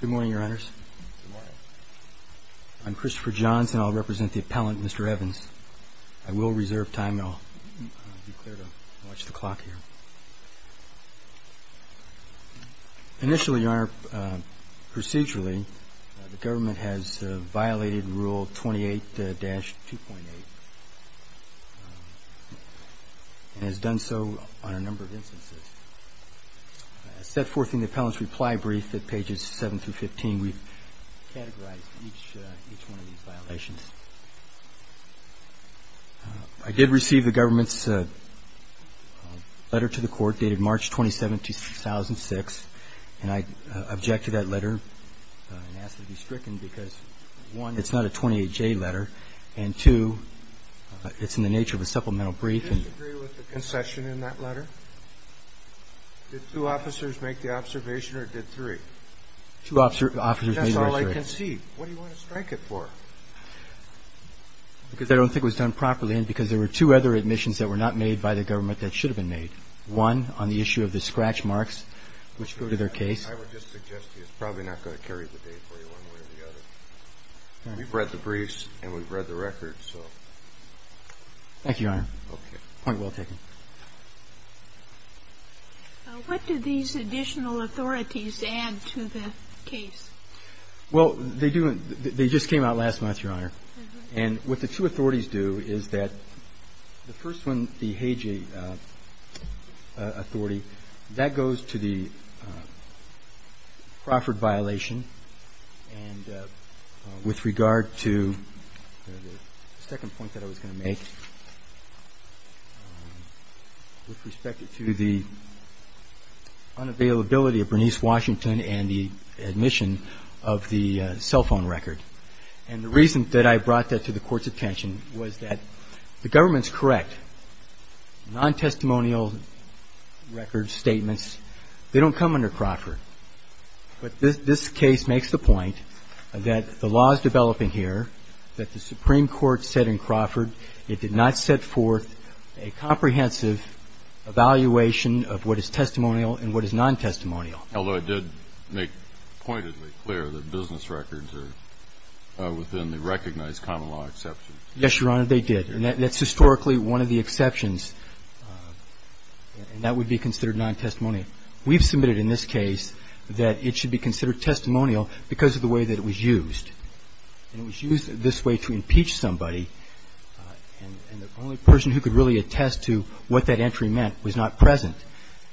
Good morning, Your Honors. I'm Christopher Johns and I'll represent the appellant, Mr. Evans. I will reserve time and I'll be clear to watch the clock here. Initially, Your Honor, procedurally, the government has violated Rule 28-2.8 and has done so on a number of instances. As set forth in the appellant's reply brief at pages 7 through 15, we've categorized each one of these violations. I did receive the government's letter to the court dated March 27, 2006, and I object to that letter and ask that it be stricken because, one, it's not a 28-J letter and, two, it's in the nature of a supplemental brief. Do you disagree with the concession in that letter? Did two officers make the observation or did three? Two officers made the observation. That's all I can see. What do you want to strike it for? Because I don't think it was done properly and because there were two other admissions that were not made by the government that should have been made. One, on the issue of the scratch marks, which go to their case. I would just suggest to you it's probably not going to carry the day for you one way or the other. We've read the briefs and we've read the records, so. Thank you, Your Honor. Okay. Point well taken. What do these additional authorities add to the case? Well, they do and they just came out last month, Your Honor. And what the two authorities do is that the first one, the Hagee authority, that goes to the Crawford violation and with regard to the second point that I was going to make with respect to the unavailability of Bernice Washington and the admission of the cell phone record. And the reason that I brought that to the Court's attention was that the government's correct. Non-testimonial record statements, they don't come under Crawford. But this case makes the point that the law is developing here, that the Supreme Court said in Crawford it did not set forth a comprehensive evaluation of what is testimonial and what is non-testimonial. Although it did make pointedly clear that business records are within the recognized common law exceptions. Yes, Your Honor, they did. And that's historically one of the exceptions, and that would be considered non-testimonial. We've submitted in this case that it should be considered testimonial because of the way that it was used. And it was used this way to impeach somebody, and the only person who could really attest to what that entry meant was not present,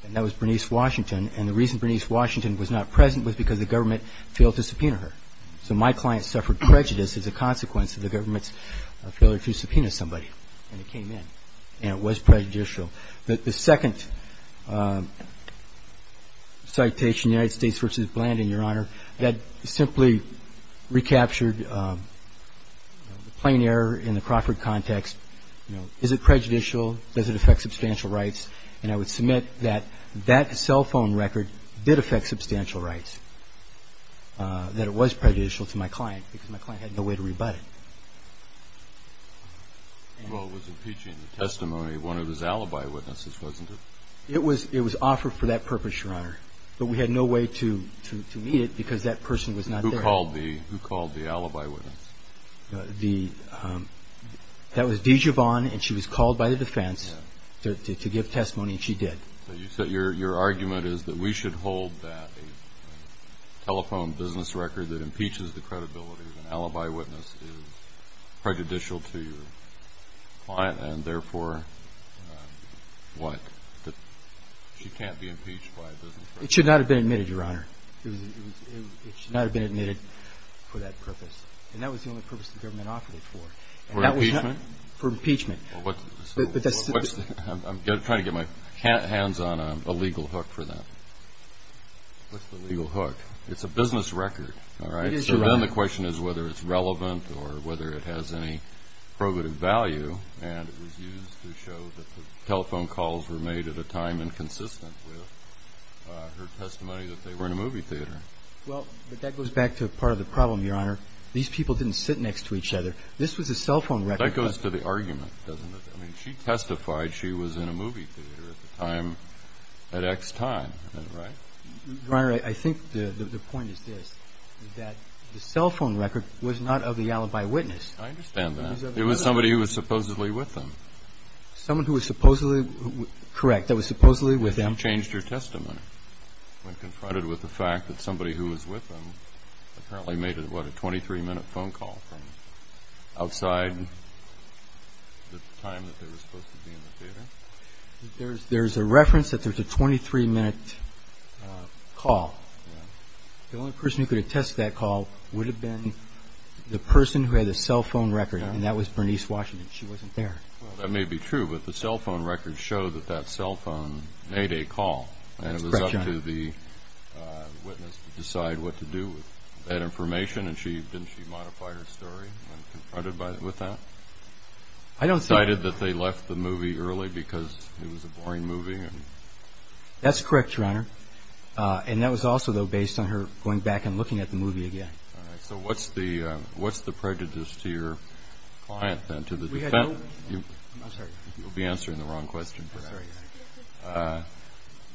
and that was Bernice Washington. And the reason Bernice Washington was not present was because the government failed to subpoena her. So my client suffered prejudice as a consequence of the government's failure to subpoena somebody when it came in, and it was prejudicial. The second citation, United States v. Blandin, Your Honor, that simply recaptured the plain error in the Crawford context. You know, is it prejudicial? Does it affect substantial rights? And I would submit that that cell phone record did affect substantial rights, that it was prejudicial to my client because my client had no way to rebut it. Well, it was impeaching the testimony of one of his alibi witnesses, wasn't it? It was offered for that purpose, Your Honor, but we had no way to meet it because that person was not there. Who called the alibi witness? That was DeJavon, and she was called by the defense to give testimony, and she did. So you said your argument is that we should hold that a telephone business record that impeaches the credibility of an alibi witness is prejudicial to your client, and therefore, what, that she can't be impeached by a business record? It should not have been admitted, Your Honor. It should not have been admitted for that purpose, and that was the only purpose the government offered it for. For impeachment? For impeachment. I'm trying to get my hands on a legal hook for that. What's the legal hook? It's a business record, all right? It is a record. So then the question is whether it's relevant or whether it has any probative value, and it was used to show that the telephone calls were made at a time inconsistent with her testimony that they were in a movie theater. Well, but that goes back to part of the problem, Your Honor. These people didn't sit next to each other. This was a cell phone record. That goes to the argument, doesn't it? I mean, she testified she was in a movie theater at the time at X time, right? Your Honor, I think the point is this, that the cell phone record was not of the alibi witness. I understand that. It was somebody who was supposedly with them. Someone who was supposedly with them? Correct, that was supposedly with them. She changed her testimony when confronted with the fact that somebody who was with them apparently made, what, a 23-minute phone call from outside the time that they were supposed to be in the theater? There's a reference that there's a 23-minute call. The only person who could attest to that call would have been the person who had the cell phone record, and that was Bernice Washington. She wasn't there. Well, that may be true, but the cell phone record showed that that cell phone made a call, and it was up to the witness to decide what to do with that information, and didn't she modify her story when confronted with that? I don't think so. Cited that they left the movie early because it was a boring movie? That's correct, Your Honor. And that was also, though, based on her going back and looking at the movie again. All right. So what's the prejudice to your client then, to the defendant? I'm sorry. You'll be answering the wrong question for that. I'm sorry.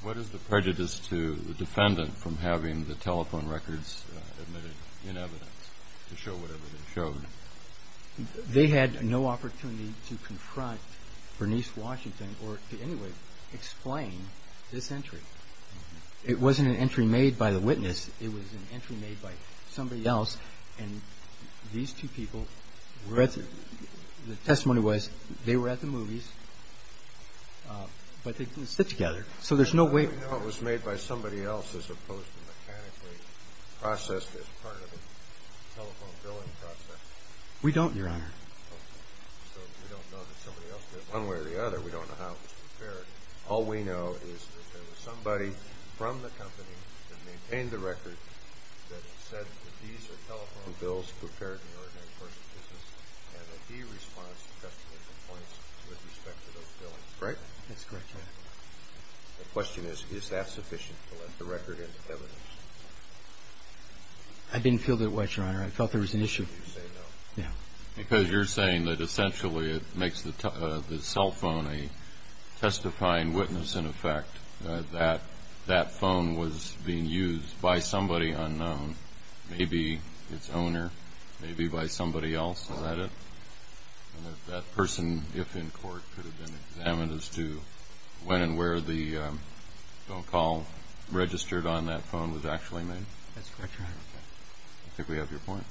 What is the prejudice to the defendant from having the telephone records admitted in evidence to show whatever they showed? They had no opportunity to confront Bernice Washington or to in any way explain this entry. It wasn't an entry made by the witness. It was an entry made by somebody else, and these two people, the testimony was they were at the movies, but they didn't sit together, so there's no way. How do we know it was made by somebody else as opposed to mechanically processed as part of a telephone billing process? We don't, Your Honor. So we don't know that somebody else did it one way or the other. We don't know how it was prepared. All we know is that there was somebody from the company that maintained the record that said that these are telephone bills prepared in the ordinary course of business, and that he responds to testimony complaints with respect to those billings. Correct? That's correct, Your Honor. The question is, is that sufficient to let the record into evidence? I didn't feel that way, Your Honor. I thought there was an issue. You say no. Yeah. Because you're saying that essentially it makes the cell phone a testifying witness in effect, that that phone was being used by somebody unknown, maybe its owner, maybe by somebody else. Is that it? That person, if in court, could have been examined as to when and where the phone call registered on that phone was actually made? That's correct, Your Honor. I think we have your point.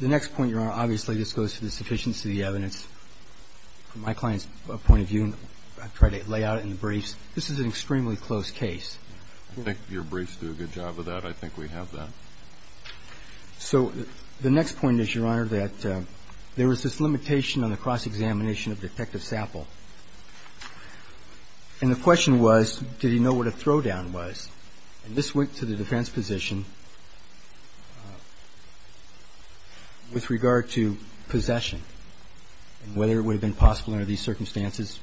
The next point, Your Honor, obviously just goes to the sufficiency of the evidence. From my client's point of view, and I try to lay out it in the briefs, this is an extremely close case. I think your briefs do a good job of that. I think we have that. So the next point is, Your Honor, that there was this limitation on the cross-examination of Detective Sapple. And the question was, did he know what a throwdown was? And this went to the defense position with regard to possession. And whether it would have been possible under these circumstances,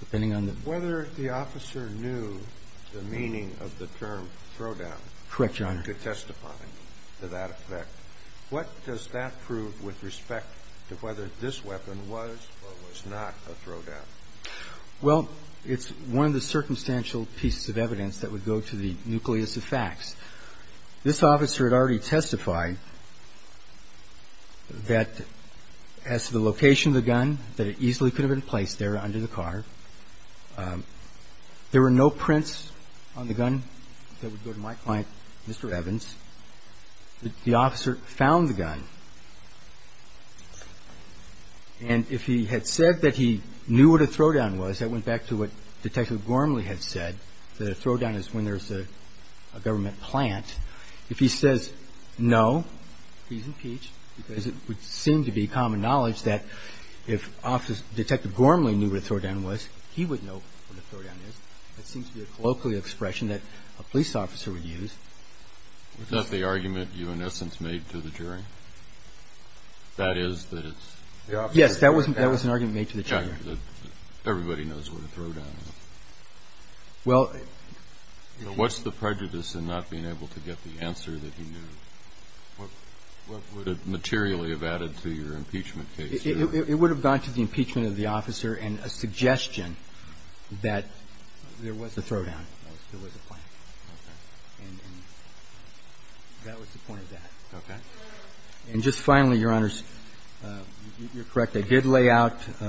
depending on the ---- Whether the officer knew the meaning of the term throwdown. Correct, Your Honor. To testify to that effect. What does that prove with respect to whether this weapon was or was not a throwdown? Well, it's one of the circumstantial pieces of evidence that would go to the nucleus of facts. This officer had already testified that as to the location of the gun, that it easily could have been placed there under the car. There were no prints on the gun that would go to my client, Mr. Evans. The officer found the gun. And if he had said that he knew what a throwdown was, that went back to what Detective Gormley had said, that a throwdown is when there's a government plant. If he says no, he's impeached because it would seem to be common knowledge that if Detective Gormley knew what a throwdown was, he would know what a throwdown is. That seems to be a colloquial expression that a police officer would use. Was that the argument you, in essence, made to the jury? That is that it's ---- Yes, that was an argument made to the jury. Everybody knows what a throwdown is. Well ---- What's the prejudice in not being able to get the answer that he knew? What would it materially have added to your impeachment case? It would have gone to the impeachment of the officer and a suggestion that there was a throwdown. There was a plant. Okay. And that was the point of that. Okay. And just finally, Your Honors, you're correct. I think there's a concession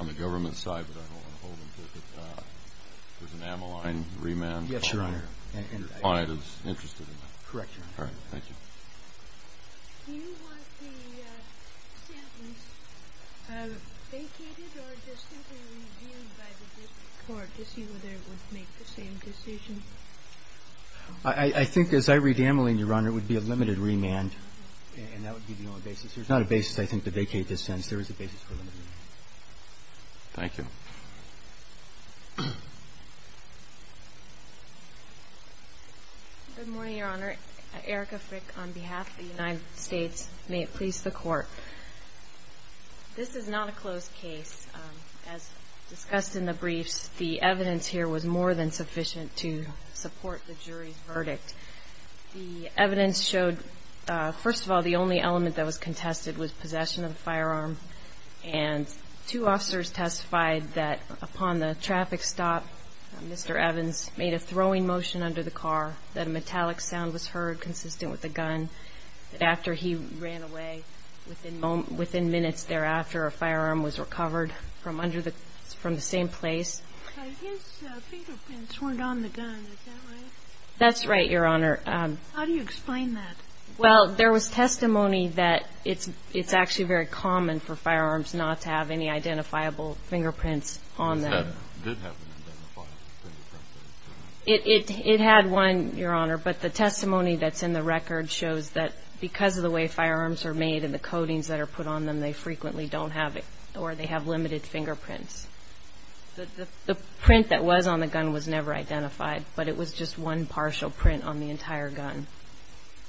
on the government side, but I don't want to hold them to it. There's an amyline remand. Yes, Your Honor. And your client is interested in that. Correct, Your Honor. Can you move to the next item? Yes, Your Honor. Do you want the samples vacated or just simply reviewed by the district court to see whether it would make the same decision? I think, as I read the amyline, Your Honor, it would be a limited remand, and that would be the only basis. There's not a basis, I think, to vacate this sentence. There is a basis for a limited remand. Thank you. Good morning, Your Honor. Erica Frick on behalf of the United States. May it please the Court. This is not a closed case. As discussed in the briefs, the evidence here was more than sufficient to support the jury's verdict. The evidence showed, first of all, the only element that was contested was possession of a firearm, and two officers testified that upon the traffic stop, Mr. Evans made a throwing motion under the car, that a metallic sound was heard consistent with the gun, that after he ran away, within minutes thereafter, a firearm was recovered from the same place. His fingerprints weren't on the gun. Is that right? That's right, Your Honor. How do you explain that? Well, there was testimony that it's actually very common for firearms not to have any identifiable fingerprints on them. It did have an identifiable fingerprint. It had one, Your Honor, but the testimony that's in the record shows that because of the way firearms are made and the coatings that are put on them, they frequently don't have it, or they have limited fingerprints. The print that was on the gun was never identified, but it was just one partial print on the entire gun.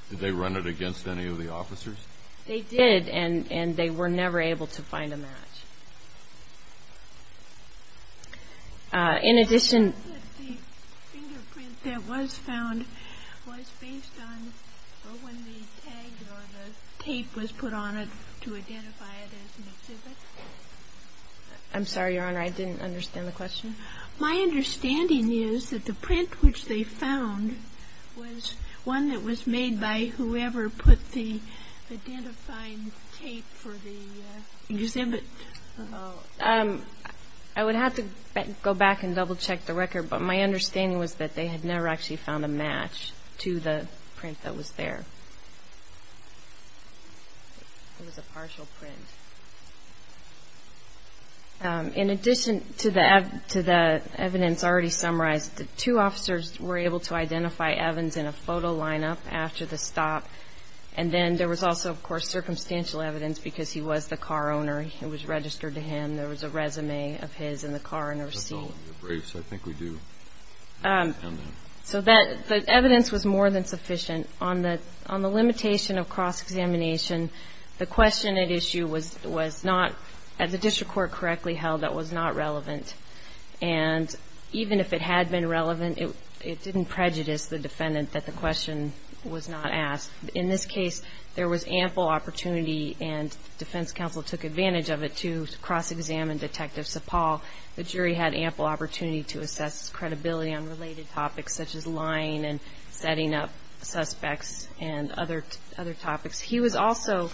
Did they run it against any of the officers? They did, and they were never able to find a match. In addition to the fingerprint that was found, was based on when the tape was put on it to identify it as an exhibit? I'm sorry, Your Honor, I didn't understand the question. My understanding is that the print which they found was one that was made by whoever put the identifying tape for the exhibit. I would have to go back and double-check the record, but my understanding was that they had never actually found a match to the print that was there. It was a partial print. In addition to the evidence already summarized, the two officers were able to identify Evans in a photo lineup after the stop, and then there was also, of course, circumstantial evidence because he was the car owner. It was registered to him. There was a resume of his in the car and a receipt. That's all in the briefs. I think we do have that. So the evidence was more than sufficient. On the limitation of cross-examination, the question at issue was not, as the district court correctly held, that was not relevant. And even if it had been relevant, it didn't prejudice the defendant that the question was not asked. In this case, there was ample opportunity, and the defense counsel took advantage of it, to cross-examine Detective Sapal. The jury had ample opportunity to assess his credibility on related topics, such as lying and setting up suspects and other topics. He was also,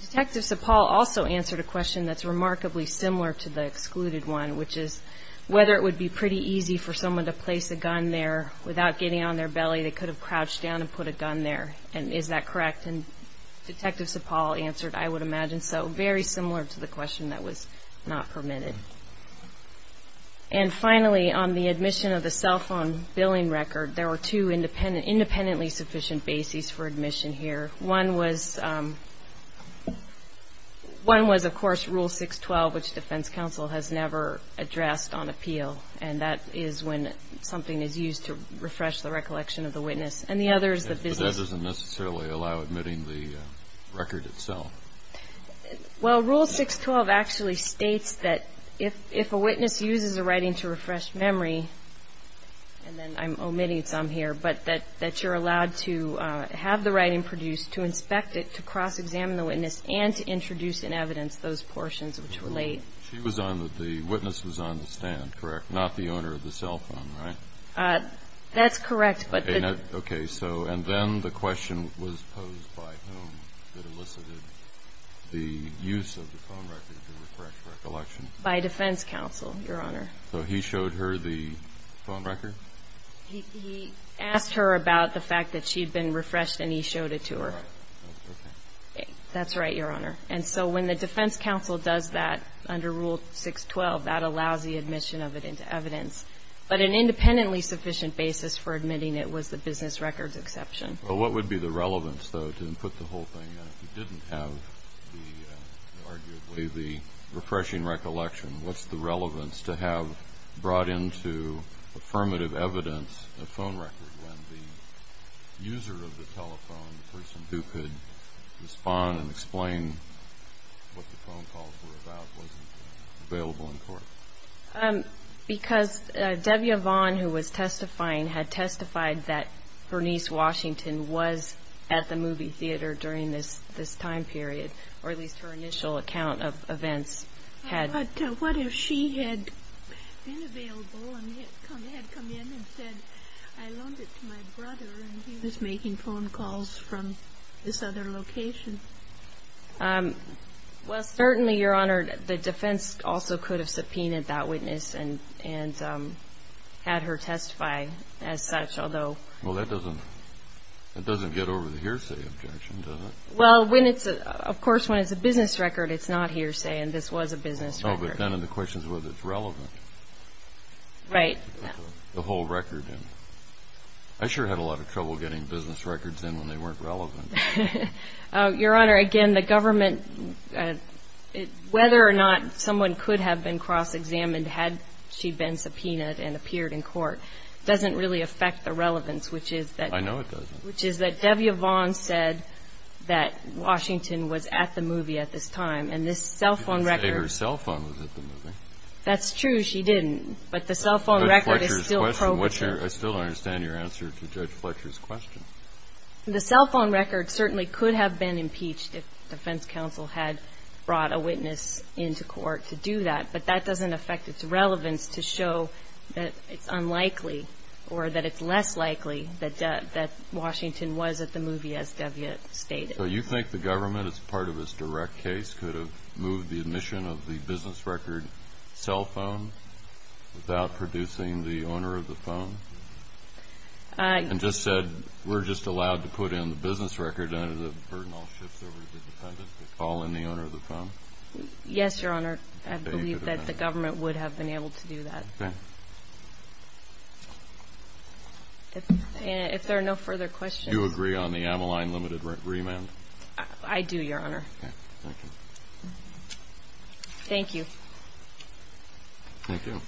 Detective Sapal also answered a question that's remarkably similar to the excluded one, which is whether it would be pretty easy for someone to place a gun there. Without getting on their belly, they could have crouched down and put a gun there. And is that correct? And Detective Sapal answered, I would imagine so. So very similar to the question that was not permitted. And finally, on the admission of the cell phone billing record, there were two independently sufficient bases for admission here. One was, of course, Rule 612, which defense counsel has never addressed on appeal, and that is when something is used to refresh the recollection of the witness. And the other is the business. But that doesn't necessarily allow admitting the record itself. Well, Rule 612 actually states that if a witness uses a writing to refresh memory, and then I'm omitting some here, but that you're allowed to have the writing produced to inspect it, to cross-examine the witness, and to introduce in evidence those portions which relate. She was on the witness was on the stand, correct, not the owner of the cell phone, right? That's correct. Okay. So and then the question was posed by whom that elicited the use of the phone record to refresh recollection? By defense counsel, Your Honor. So he showed her the phone record? He asked her about the fact that she had been refreshed and he showed it to her. All right. Okay. That's right, Your Honor. And so when the defense counsel does that under Rule 612, that allows the admission of it into evidence. But an independently sufficient basis for admitting it was the business records exception. Well, what would be the relevance, though, to input the whole thing? If you didn't have the, arguably, the refreshing recollection, what's the relevance to have brought into affirmative evidence a phone record when the user of the telephone, the person who could respond and explain what the phone calls were about, wasn't available in court? Because Debbie Yvonne, who was testifying, had testified that Bernice Washington was at the movie theater during this time period, or at least her initial account of events had. But what if she had been available and had come in and said, I loaned it to my brother and he was making phone calls from this other location? Well, certainly, Your Honor, the defense also could have subpoenaed that witness and had her testify as such, although. Well, that doesn't get over the hearsay objection, does it? Well, of course, when it's a business record, it's not hearsay, and this was a business record. Oh, but then the question is whether it's relevant. Right. The whole record. I sure had a lot of trouble getting business records in when they weren't relevant. Your Honor, again, the government, whether or not someone could have been cross-examined had she been subpoenaed and appeared in court, doesn't really affect the relevance, which is that. I know it doesn't. Which is that Debbie Yvonne said that Washington was at the movie at this time, and this cell phone record. She didn't say her cell phone was at the movie. That's true, she didn't. But the cell phone record is still programed. I still don't understand your answer to Judge Fletcher's question. The cell phone record certainly could have been impeached if the defense counsel had brought a witness into court to do that, but that doesn't affect its relevance to show that it's unlikely or that it's less likely that Washington was at the movie, as Debbie stated. So you think the government, as part of its direct case, could have moved the admission of the business record cell phone without producing the owner of the phone? And just said, we're just allowed to put in the business record and the burden all shifts over to the defendant to call in the owner of the phone? Yes, Your Honor. I believe that the government would have been able to do that. Okay. If there are no further questions. Do you agree on the Ameline limited remand? I do, Your Honor. Okay, thank you. Thank you. Thank you. Thank you.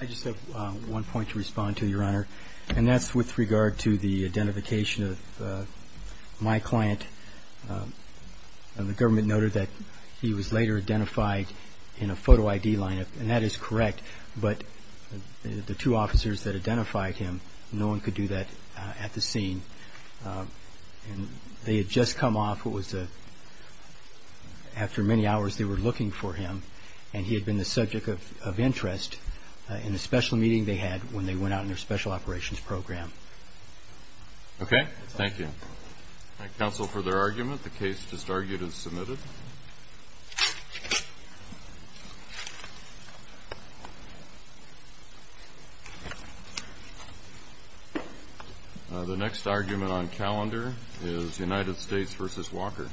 I just have one point to respond to, Your Honor, and that's with regard to the identification of my client. The government noted that he was later identified in a photo ID lineup, and that is correct, but the two officers that identified him, no one could do that at the scene. They had just come off what was, after many hours, they were looking for him, and he had been the subject of interest in a special meeting they had when they went out in their special operations program. Okay, thank you. Counsel, further argument? The case just argued and submitted. The next argument on calendar is United States v. Walker.